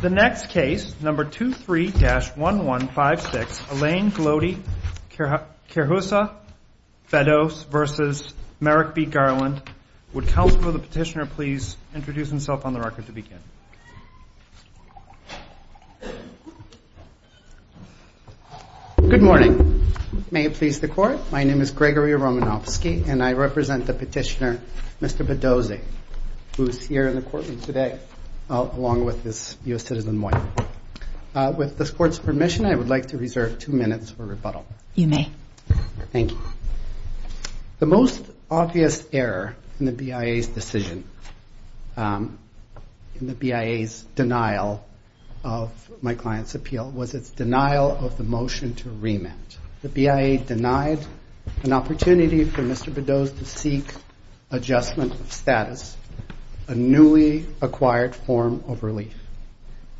The next case, number 23-1156, Elaine Glody-Quirjosa-Bedose v. Merrick B. Garland. Would counsel for the petitioner please introduce himself on the record to begin? Good morning. May it please the court, my name is Gregory Romanofsky and I represent the petitioner, Mr. Bedose, who is here in the courtroom today along with his U.S. citizen wife. With this court's permission, I would like to reserve two minutes for rebuttal. You may. Thank you. The most obvious error in the BIA's decision, in the BIA's denial of my client's appeal, was its denial of the motion to remit. The BIA denied an opportunity for Mr. Bedose to seek adjustment of status, a newly acquired form of relief.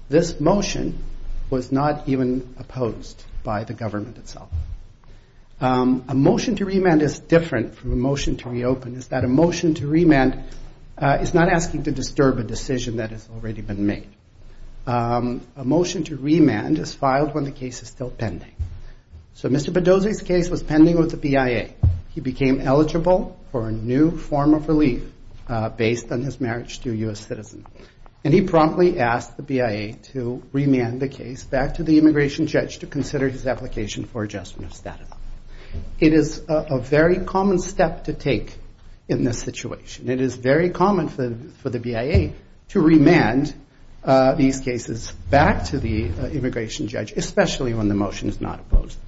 This motion was not even opposed by the government itself. A motion to remand is different from a motion to reopen. It's that a motion to remand is not asking to disturb a decision that has already been made. A motion to remand is filed when the case is still pending. So Mr. Bedose's case was pending with the BIA. He became eligible for a new form of relief based on his marriage to a U.S. citizen. And he promptly asked the BIA to remand the case back to the immigration judge to consider his application for adjustment of status. It is a very common step to take in this situation. It is very common for the BIA to remand these cases back to the immigration judge, especially when the motion is not opposed.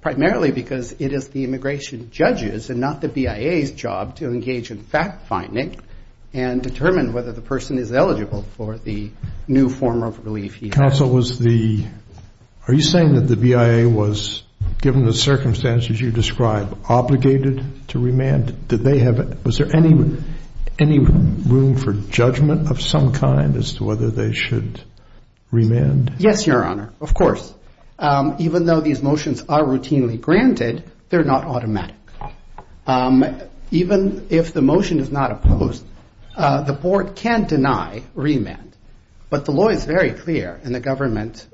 Primarily because it is the immigration judge's and not the BIA's job to engage in fact-finding and determine whether the person is eligible for the new form of relief he has. Counsel, are you saying that the BIA was, given the circumstances you described, obligated to remand? Was there any room for judgment of some kind as to whether they should remand? Yes, Your Honor, of course. Even though these motions are routinely granted, they're not automatic. Even if the motion is not opposed, the board can deny remand. But the law is very clear, and the government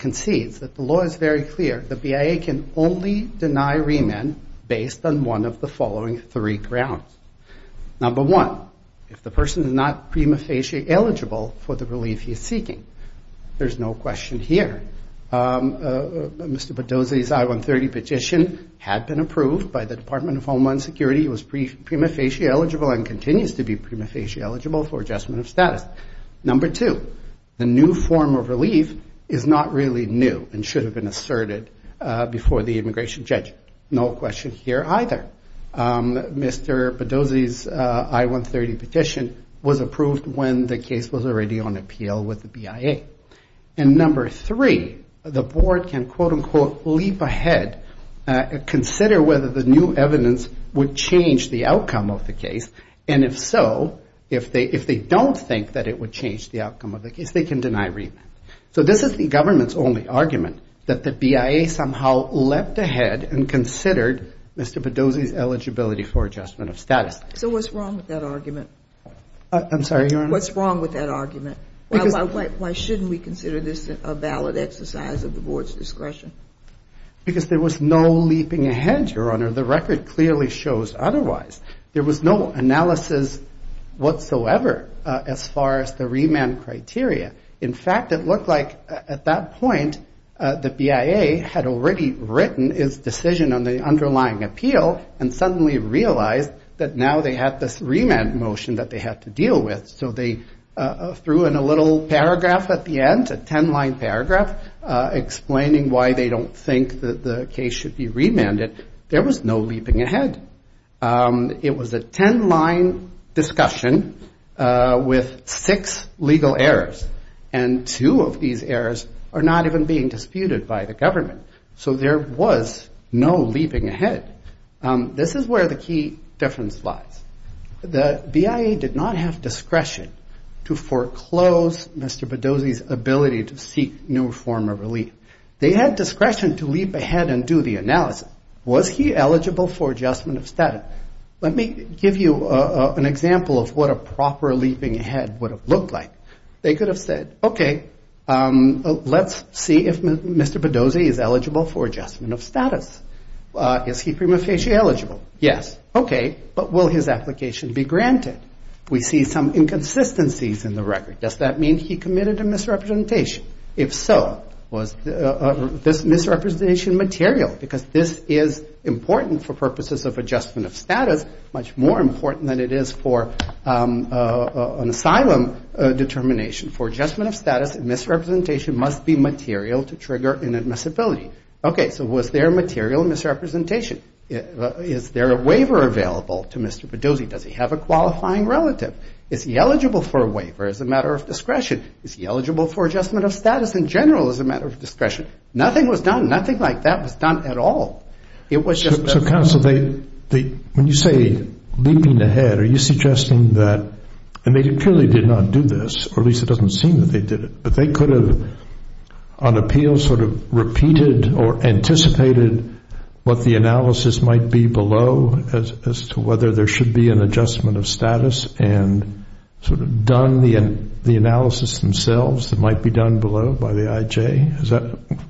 concedes that the law is very clear, the BIA can only deny remand based on one of the following three grounds. Number one, if the person is not prima facie eligible for the relief he's seeking. There's no question here. Mr. Badosi's I-130 petition had been approved by the Department of Homeland Security. He was prima facie eligible and continues to be prima facie eligible for adjustment of status. Number two, the new form of relief is not really new and should have been asserted before the immigration judge. No question here either. Mr. Badosi's I-130 petition was approved when the case was already on appeal with the BIA. And number three, the board can, quote, unquote, leap ahead, consider whether the new evidence would change the outcome of the case. And if so, if they don't think that it would change the outcome of the case, they can deny remand. So this is the government's only argument, that the BIA somehow leapt ahead and considered Mr. Badosi's eligibility for adjustment of status. So what's wrong with that argument? I'm sorry, Your Honor? What's wrong with that argument? Why shouldn't we consider this a valid exercise of the board's discretion? Because there was no leaping ahead, Your Honor. The record clearly shows otherwise. There was no analysis whatsoever as far as the remand criteria. In fact, it looked like at that point the BIA had already written its decision on the underlying appeal and suddenly realized that now they had this remand motion that they had to deal with. So they threw in a little paragraph at the end, a ten-line paragraph, explaining why they don't think that the case should be remanded. There was no leaping ahead. It was a ten-line discussion with six legal errors, and two of these errors are not even being disputed by the government. So there was no leaping ahead. This is where the key difference lies. The BIA did not have discretion to foreclose Mr. Badosi's ability to seek new form of relief. They had discretion to leap ahead and do the analysis. Was he eligible for adjustment of status? Let me give you an example of what a proper leaping ahead would have looked like. They could have said, okay, let's see if Mr. Badosi is eligible for adjustment of status. Is he prima facie eligible? Yes. Okay, but will his application be granted? We see some inconsistencies in the record. Does that mean he committed a misrepresentation? If so, was this misrepresentation material? Because this is important for purposes of adjustment of status, much more important than it is for an asylum determination. For adjustment of status, misrepresentation must be material to trigger inadmissibility. Okay, so was there material misrepresentation? Is there a waiver available to Mr. Badosi? Does he have a qualifying relative? Is he eligible for a waiver as a matter of discretion? Is he eligible for adjustment of status in general as a matter of discretion? Nothing was done. Nothing like that was done at all. It was just that. So, counsel, when you say leaping ahead, are you suggesting that, and they clearly did not do this, or at least it doesn't seem that they did it, but they could have, on appeal, sort of repeated or anticipated what the analysis might be below as to whether there should be an adjustment of status and sort of done the analysis themselves that might be done below by the IJ?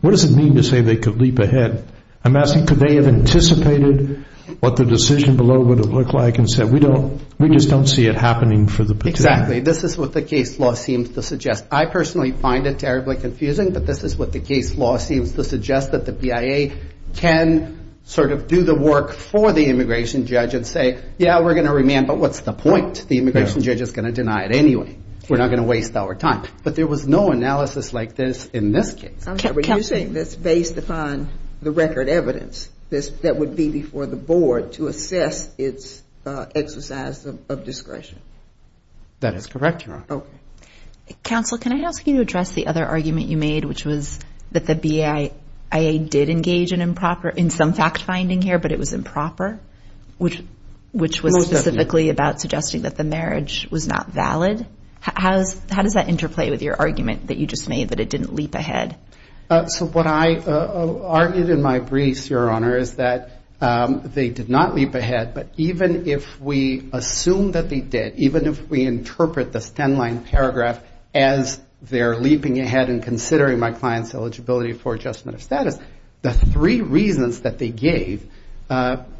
What does it mean to say they could leap ahead? I'm asking could they have anticipated what the decision below would have looked like and said we just don't see it happening for the petition? Exactly. This is what the case law seems to suggest. I personally find it terribly confusing, but this is what the case law seems to suggest, that the BIA can sort of do the work for the immigration judge and say, yeah, we're going to remand, but what's the point? The immigration judge is going to deny it anyway. We're not going to waste our time. But there was no analysis like this in this case. Are you saying that's based upon the record evidence that would be before the board to assess its exercise of discretion? That is correct, Your Honor. Okay. Counsel, can I ask you to address the other argument you made, which was that the BIA did engage in some fact-finding here, but it was improper, which was specifically about suggesting that the marriage was not valid? How does that interplay with your argument that you just made that it didn't leap ahead? So what I argued in my briefs, Your Honor, is that they did not leap ahead, but even if we assume that they did, even if we interpret this 10-line paragraph as they're leaping ahead and considering my client's eligibility for adjustment of status, the three reasons that they gave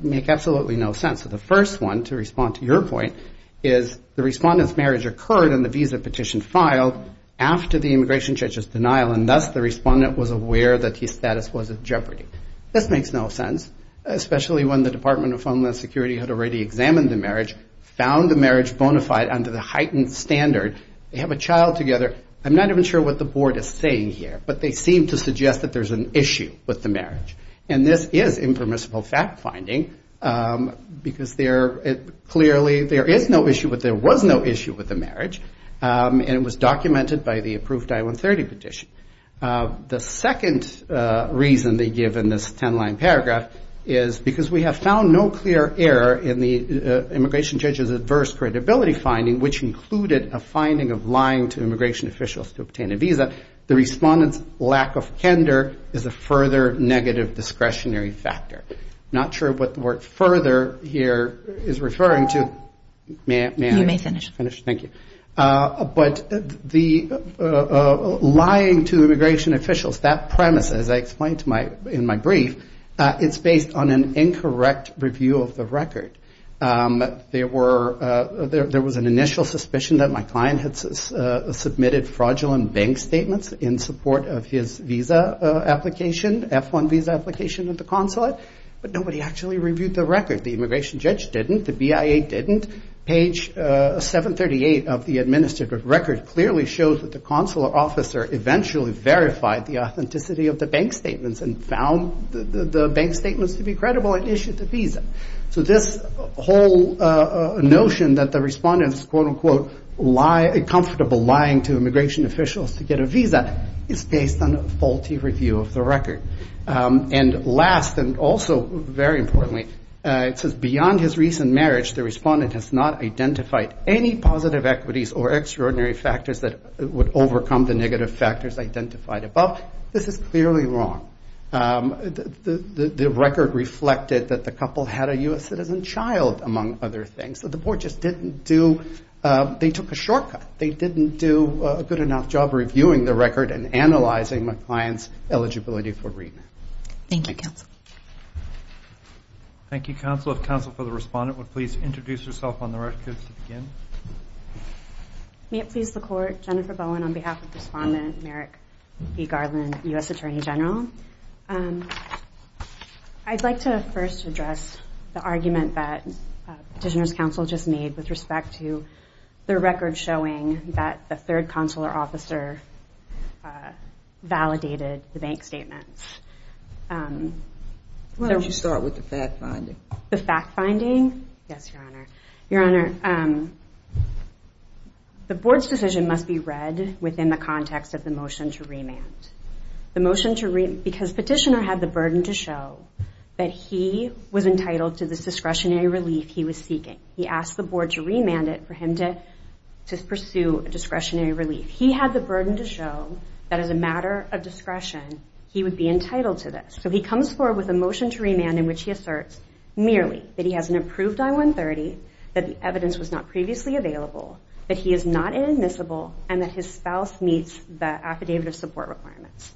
make absolutely no sense. So the first one, to respond to your point, is the respondent's marriage occurred and the visa petition filed after the immigration judge's denial, and thus the respondent was aware that his status was at jeopardy. This makes no sense, especially when the Department of Homeland Security had already examined the marriage, found the marriage bona fide under the heightened standard. They have a child together. I'm not even sure what the board is saying here, but they seem to suggest that there's an issue with the marriage. And this is impermissible fact-finding, because clearly there is no issue, but there was no issue with the marriage, and it was documented by the approved I-130 petition. The second reason they give in this 10-line paragraph is because we have found no clear error in the immigration judge's adverse credibility finding, which included a finding of lying to immigration officials to obtain a visa. The respondent's lack of candor is a further negative discretionary factor. I'm not sure what the word further here is referring to. May I finish? You may finish. Thank you. But the lying to immigration officials, that premise, as I explained in my brief, it's based on an incorrect review of the record. There was an initial suspicion that my client had submitted fraudulent bank statements in support of his visa application, F-1 visa application at the consulate, but nobody actually reviewed the record. The immigration judge didn't. The BIA didn't. Page 738 of the administrative record clearly shows that the consular officer eventually verified the authenticity of the bank statements and found the bank statements to be credible and issued the visa. So this whole notion that the respondent is quote-unquote comfortable lying to immigration officials to get a visa is based on a faulty review of the record. And last, and also very importantly, it says beyond his recent marriage, the respondent has not identified any positive equities or extraordinary factors that would overcome the negative factors identified above. This is clearly wrong. The record reflected that the couple had a U.S. citizen child, among other things. So the board just didn't do, they took a shortcut. They didn't do a good enough job reviewing the record and analyzing my client's eligibility for remit. Thank you, counsel. Thank you, counsel. If counsel for the respondent would please introduce herself on the record to begin. May it please the court, Jennifer Bowen on behalf of the respondent, Merrick B. Garland, U.S. Attorney General. I'd like to first address the argument that petitioner's counsel just made with respect to the record showing that the third consular officer validated the bank statements. Why don't you start with the fact-finding? The fact-finding? Yes, Your Honor. Your Honor, the board's decision must be read within the context of the motion to remand. The motion to remand, because petitioner had the burden to show that he was entitled to this discretionary relief he was seeking. He asked the board to remand it for him to pursue a discretionary relief. He had the burden to show that as a matter of discretion, he would be entitled to this. So he comes forward with a motion to remand in which he asserts merely that he has an approved I-130, that the evidence was not previously available, that he is not inadmissible, and that his spouse meets the affidavit of support requirements.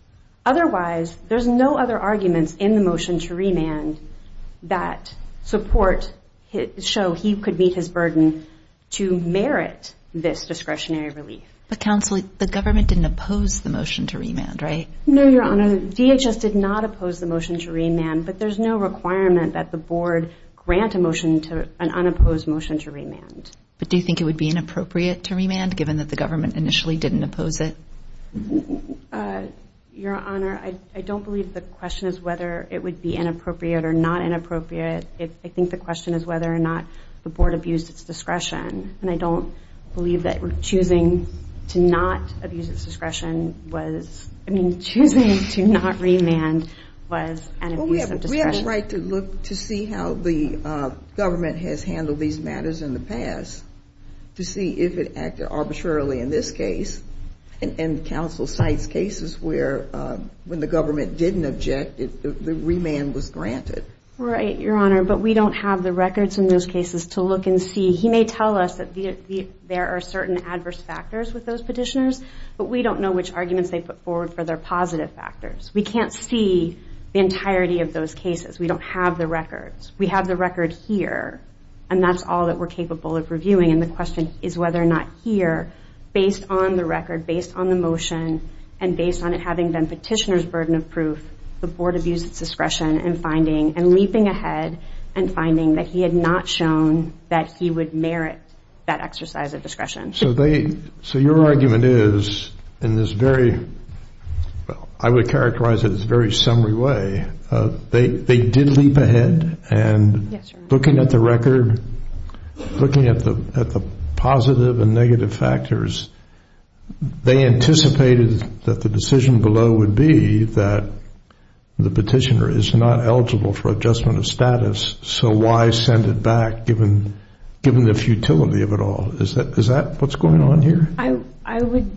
Otherwise, there's no other arguments in the motion to remand that show he could meet his burden to merit this discretionary relief. But, counsel, the government didn't oppose the motion to remand, right? No, Your Honor. DHS did not oppose the motion to remand, but there's no requirement that the board grant a motion to an unopposed motion to remand. But do you think it would be inappropriate to remand, given that the government initially didn't oppose it? Your Honor, I don't believe the question is whether it would be inappropriate or not inappropriate. I think the question is whether or not the board abused its discretion. And I don't believe that choosing to not abuse its discretion was, I mean, choosing to not remand was an abuse of discretion. Well, we have the right to look to see how the government has handled these matters in the past to see if it acted arbitrarily in this case. And counsel cites cases where when the government didn't object, the remand was granted. Right, Your Honor, but we don't have the records in those cases to look and see. He may tell us that there are certain adverse factors with those petitioners, but we don't know which arguments they put forward for their positive factors. We can't see the entirety of those cases. We don't have the records. We have the record here, and that's all that we're capable of reviewing. And the question is whether or not here, based on the record, based on the motion, and based on it having been petitioner's burden of proof, the board abused its discretion in finding and leaping ahead and finding that he had not shown that he would merit that exercise of discretion. So they, so your argument is in this very, I would characterize it as a very summary way, they did leap ahead and looking at the record, looking at the positive and negative factors, they anticipated that the decision below would be that the petitioner is not eligible for adjustment of status, so why send it back given the futility of it all? Is that what's going on here? I would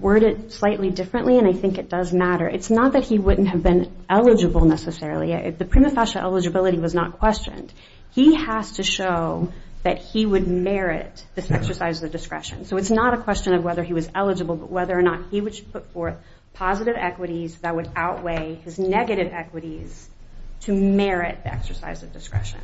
word it slightly differently, and I think it does matter. It's not that he wouldn't have been eligible necessarily. The prima facie eligibility was not questioned. He has to show that he would merit this exercise of discretion. So it's not a question of whether he was eligible, but whether or not he would put forth positive equities that would outweigh his negative equities to merit the exercise of discretion.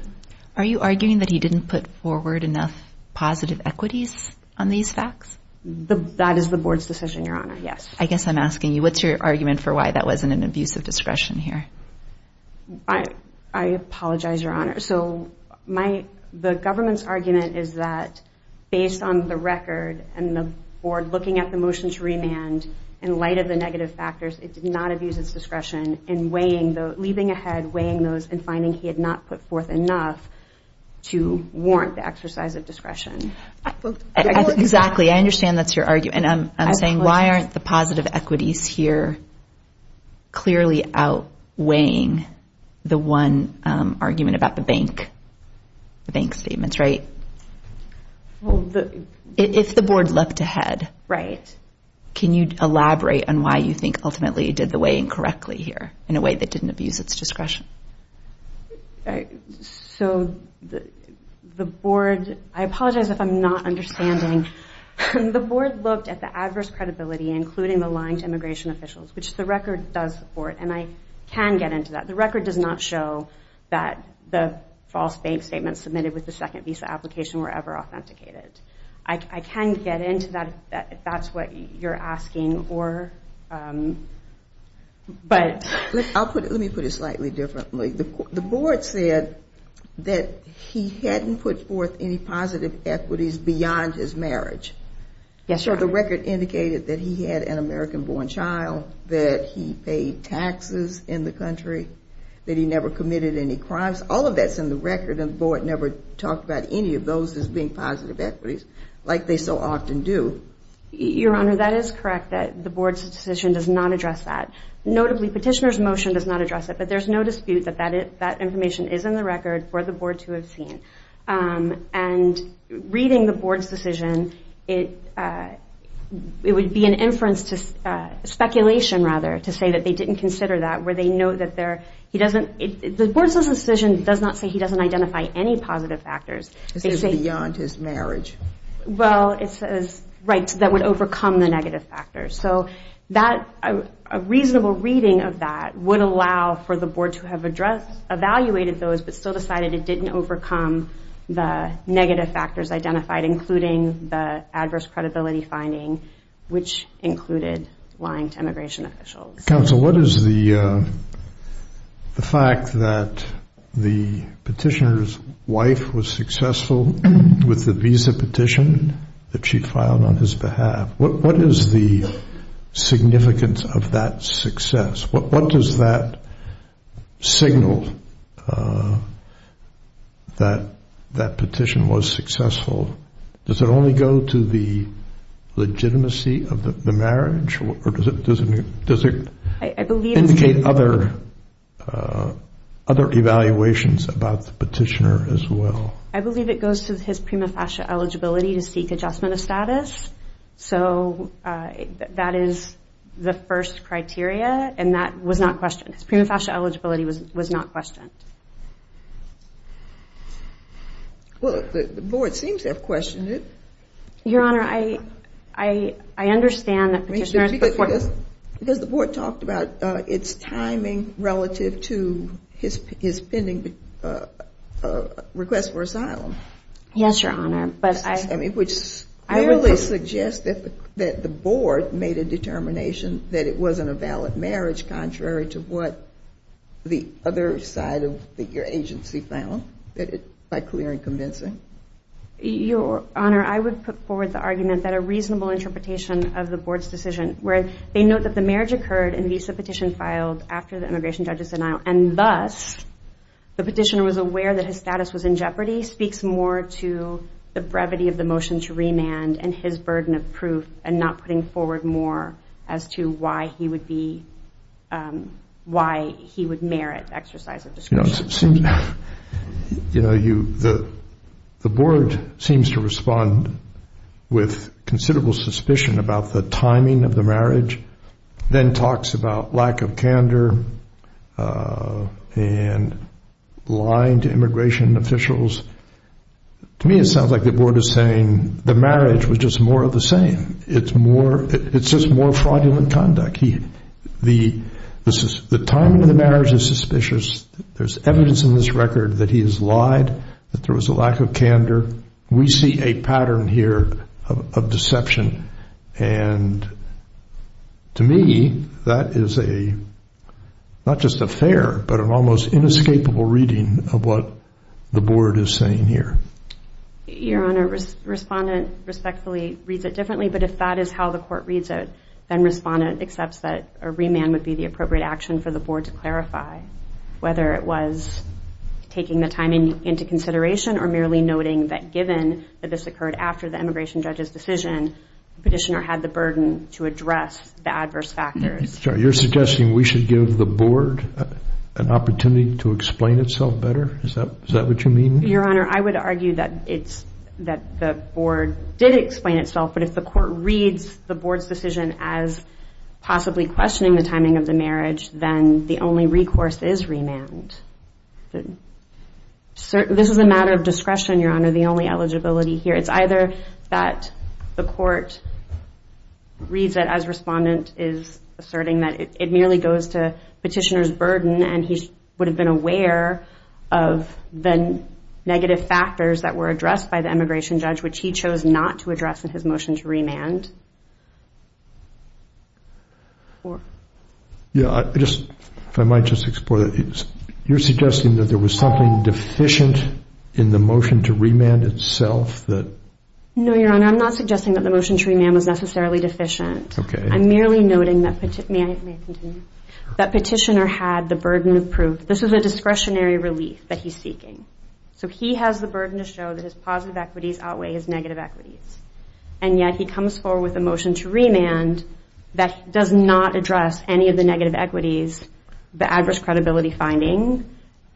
Are you arguing that he didn't put forward enough positive equities on these facts? That is the board's decision, Your Honor, yes. I guess I'm asking you, what's your argument for why that wasn't an abuse of discretion here? I apologize, Your Honor. The government's argument is that based on the record and the board looking at the motion to remand, in light of the negative factors, it did not abuse its discretion in leaving ahead, weighing those, and finding he had not put forth enough to warrant the exercise of discretion. Exactly. I understand that's your argument. I'm saying why aren't the positive equities here clearly outweighing the one argument about the bank statements, right? If the board looked ahead, can you elaborate on why you think ultimately it did the weighing correctly here in a way that didn't abuse its discretion? So the board – I apologize if I'm not understanding. The board looked at the adverse credibility, including the lying to immigration officials, which the record does support, and I can get into that. The record does not show that the false bank statements submitted with the second visa application were ever authenticated. I can get into that if that's what you're asking. Let me put it slightly differently. The board said that he hadn't put forth any positive equities beyond his marriage. Yes, Your Honor. The record indicated that he had an American-born child, that he paid taxes in the country, that he never committed any crimes. All of that's in the record, and the board never talked about any of those as being positive equities like they so often do. Your Honor, that is correct. The board's decision does not address that. Notably, petitioner's motion does not address it, but there's no dispute that that information is in the record for the board to have seen. And reading the board's decision, it would be an inference to – speculation, rather, to say that they didn't consider that, where they know that there – he doesn't – the board's decision does not say he doesn't identify any positive factors. It says beyond his marriage. Well, it says – right, that would overcome the negative factors. So that – a reasonable reading of that would allow for the board to have addressed – evaluated those but still decided it didn't overcome the negative factors identified, including the adverse credibility finding, which included lying to immigration officials. Counsel, what is the fact that the petitioner's wife was successful with the visa petition that she filed on his behalf? What is the significance of that success? What does that signal that that petition was successful? Does it only go to the legitimacy of the marriage? Or does it indicate other evaluations about the petitioner as well? I believe it goes to his prima facie eligibility to seek adjustment of status. So that is the first criteria, and that was not questioned. His prima facie eligibility was not questioned. Well, the board seems to have questioned it. Your Honor, I understand that petitioners – Because the board talked about its timing relative to his pending request for asylum. Yes, Your Honor, but I – I mean, which clearly suggests that the board made a determination that it wasn't a valid marriage, contrary to what the other side of your agency found, by clear and convincing. Your Honor, I would put forward the argument that a reasonable interpretation of the board's decision, where they note that the marriage occurred in the visa petition filed after the immigration judge's denial, and thus the petitioner was aware that his status was in jeopardy, speaks more to the brevity of the motion to remand and his burden of proof and not putting forward more as to why he would merit exercise of discretion. You know, the board seems to respond with considerable suspicion about the timing of the marriage, then talks about lack of candor and lying to immigration officials. To me, it sounds like the board is saying the marriage was just more of the same. It's just more fraudulent conduct. The timing of the marriage is suspicious. There's evidence in this record that he has lied, that there was a lack of candor. We see a pattern here of deception, and to me, that is not just a fair but an almost inescapable reading of what the board is saying here. Your Honor, Respondent respectfully reads it differently, but if that is how the court reads it, then Respondent accepts that a remand would be the appropriate action for the board to clarify, whether it was taking the timing into consideration or merely noting that, after the immigration judge's decision, the petitioner had the burden to address the adverse factors. So you're suggesting we should give the board an opportunity to explain itself better? Is that what you mean? Your Honor, I would argue that the board did explain itself, but if the court reads the board's decision as possibly questioning the timing of the marriage, then the only recourse is remand. This is a matter of discretion, Your Honor, the only eligibility here. It's either that the court reads it as Respondent is asserting that it merely goes to petitioner's burden and he would have been aware of the negative factors that were addressed by the immigration judge, which he chose not to address in his motion to remand. If I might just explore that. You're suggesting that there was something deficient in the motion to remand itself? No, Your Honor, I'm not suggesting that the motion to remand was necessarily deficient. I'm merely noting that petitioner had the burden of proof. This is a discretionary relief that he's seeking. So he has the burden to show that his positive equities outweigh his negative equities, and yet he comes forward with a motion to remand that does not address any of the negative equities, the adverse credibility finding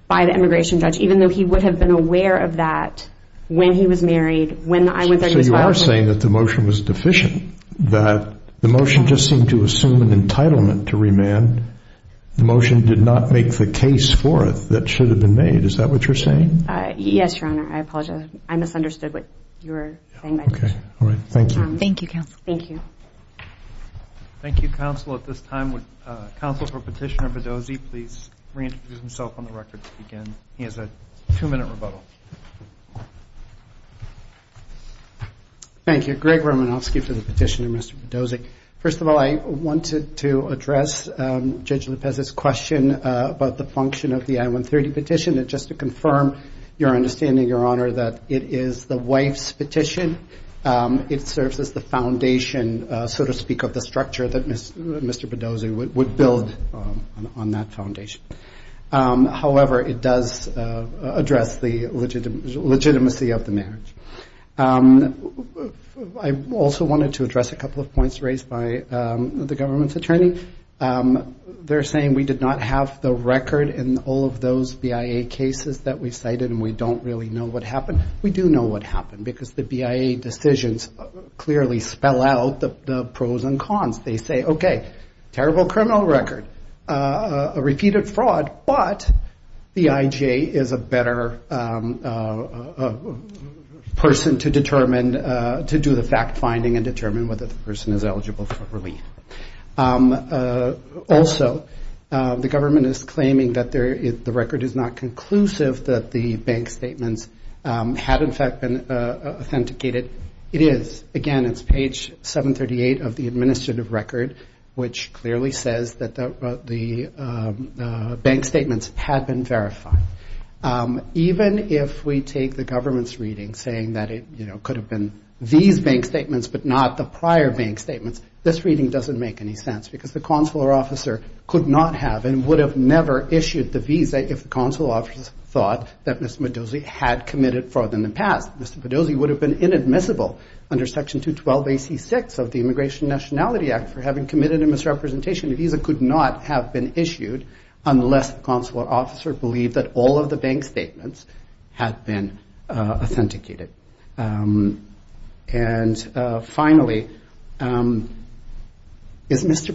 by the immigration judge, even though he would have been aware of that when he was married, when I went there as well. So you are saying that the motion was deficient, that the motion just seemed to assume an entitlement to remand. The motion did not make the case for it that should have been made. Is that what you're saying? Yes, Your Honor, I apologize. I misunderstood what you were saying. Okay, all right. Thank you. Thank you, counsel. Thank you. Thank you, counsel. At this time, would counsel for Petitioner Bedozy please reintroduce himself on the record to begin? He has a two-minute rebuttal. Thank you. Greg Romanofsky for the petitioner, Mr. Bedozy. First of all, I wanted to address Judge Lopez's question about the function of the I-130 petition, and just to confirm your understanding, Your Honor, that it is the wife's petition. It serves as the foundation, so to speak, of the structure that Mr. Bedozy would build on that foundation. However, it does address the legitimacy of the marriage. I also wanted to address a couple of points raised by the government's attorney. They're saying we did not have the record in all of those BIA cases that we cited and we don't really know what happened. We do know what happened because the BIA decisions clearly spell out the pros and cons. They say, okay, terrible criminal record, repeated fraud, but the IJ is a better person to do the fact-finding and determine whether the person is eligible for relief. Also, the government is claiming that the record is not conclusive, that the bank statements had, in fact, been authenticated. It is. Again, it's page 738 of the administrative record, which clearly says that the bank statements had been verified. Even if we take the government's reading saying that it could have been these bank statements but not the prior bank statements, this reading doesn't make any sense because the consular officer could not have and would have never issued the visa if the consular officer thought that Mr. Bedozy had committed fraud in the past. Mr. Bedozy would have been inadmissible under Section 212 AC6 of the Immigration Nationality Act for having committed a misrepresentation. A visa could not have been issued unless the consular officer believed that all of the bank statements had been authenticated. And finally, is Mr.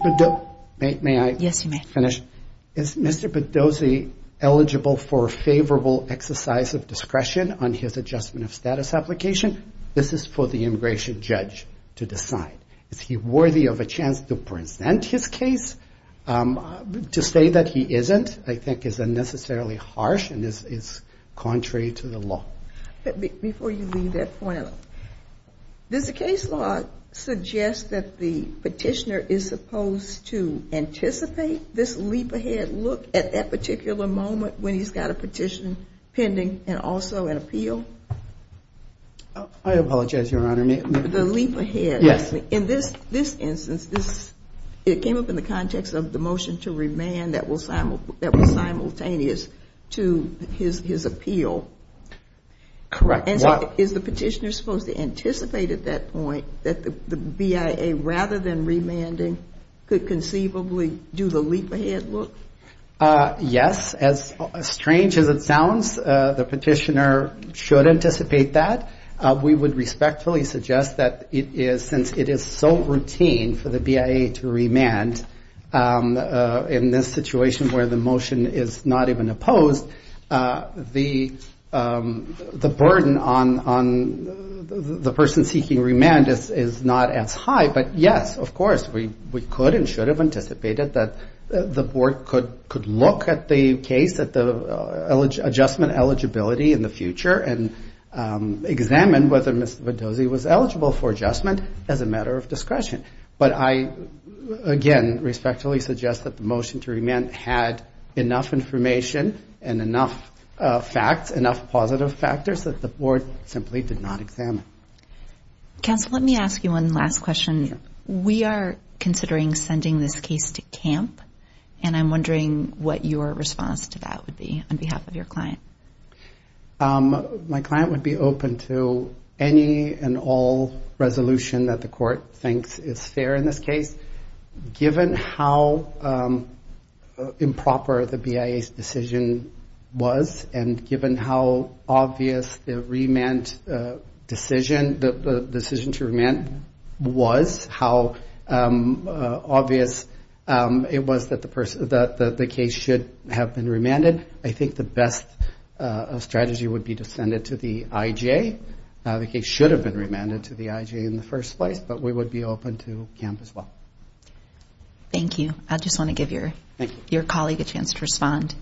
Bedozy eligible for favorable exercise of discretion on his adjustment of status application? This is for the immigration judge to decide. Is he worthy of a chance to present his case? To say that he isn't, I think, is unnecessarily harsh and is contrary to the law. Before you leave that point, does the case law suggest that the petitioner is supposed to anticipate this leap ahead look at that particular moment when he's got a petition pending and also an appeal? I apologize, Your Honor. The leap ahead. Yes. In this instance, it came up in the context of the motion to remand that was simultaneous to his appeal. Correct. Is the petitioner supposed to anticipate at that point that the BIA, rather than remanding, could conceivably do the leap ahead look? Yes. As strange as it sounds, the petitioner should anticipate that. We would respectfully suggest that it is, since it is so routine for the BIA to remand in this situation where the motion is not even opposed, the burden on the person seeking remand is not as high. But, yes, of course, we could and should have anticipated that the board could look at the case, at the adjustment eligibility in the future and examine whether Mr. Vitozzi was eligible for adjustment as a matter of discretion. But I, again, respectfully suggest that the motion to remand had enough information and enough facts, enough positive factors that the board simply did not examine. Counsel, let me ask you one last question. Yes. We are considering sending this case to camp, and I'm wondering what your response to that would be on behalf of your client. My client would be open to any and all resolution that the court thinks is fair in this case, given how improper the BIA's decision was and given how obvious the remand decision, the decision to remand was, how obvious it was that the case should have been remanded. I think the best strategy would be to send it to the IJ. The case should have been remanded to the IJ in the first place, but we would be open to camp as well. Thank you. I just want to give your colleague a chance to respond.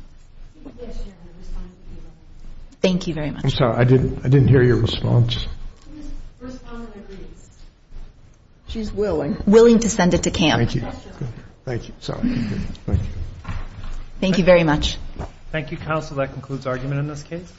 Thank you very much. I'm sorry. I didn't hear your response. She's willing. Willing to send it to camp. Thank you. Thank you. Thank you. Thank you very much. Thank you, counsel. That concludes argument in this case.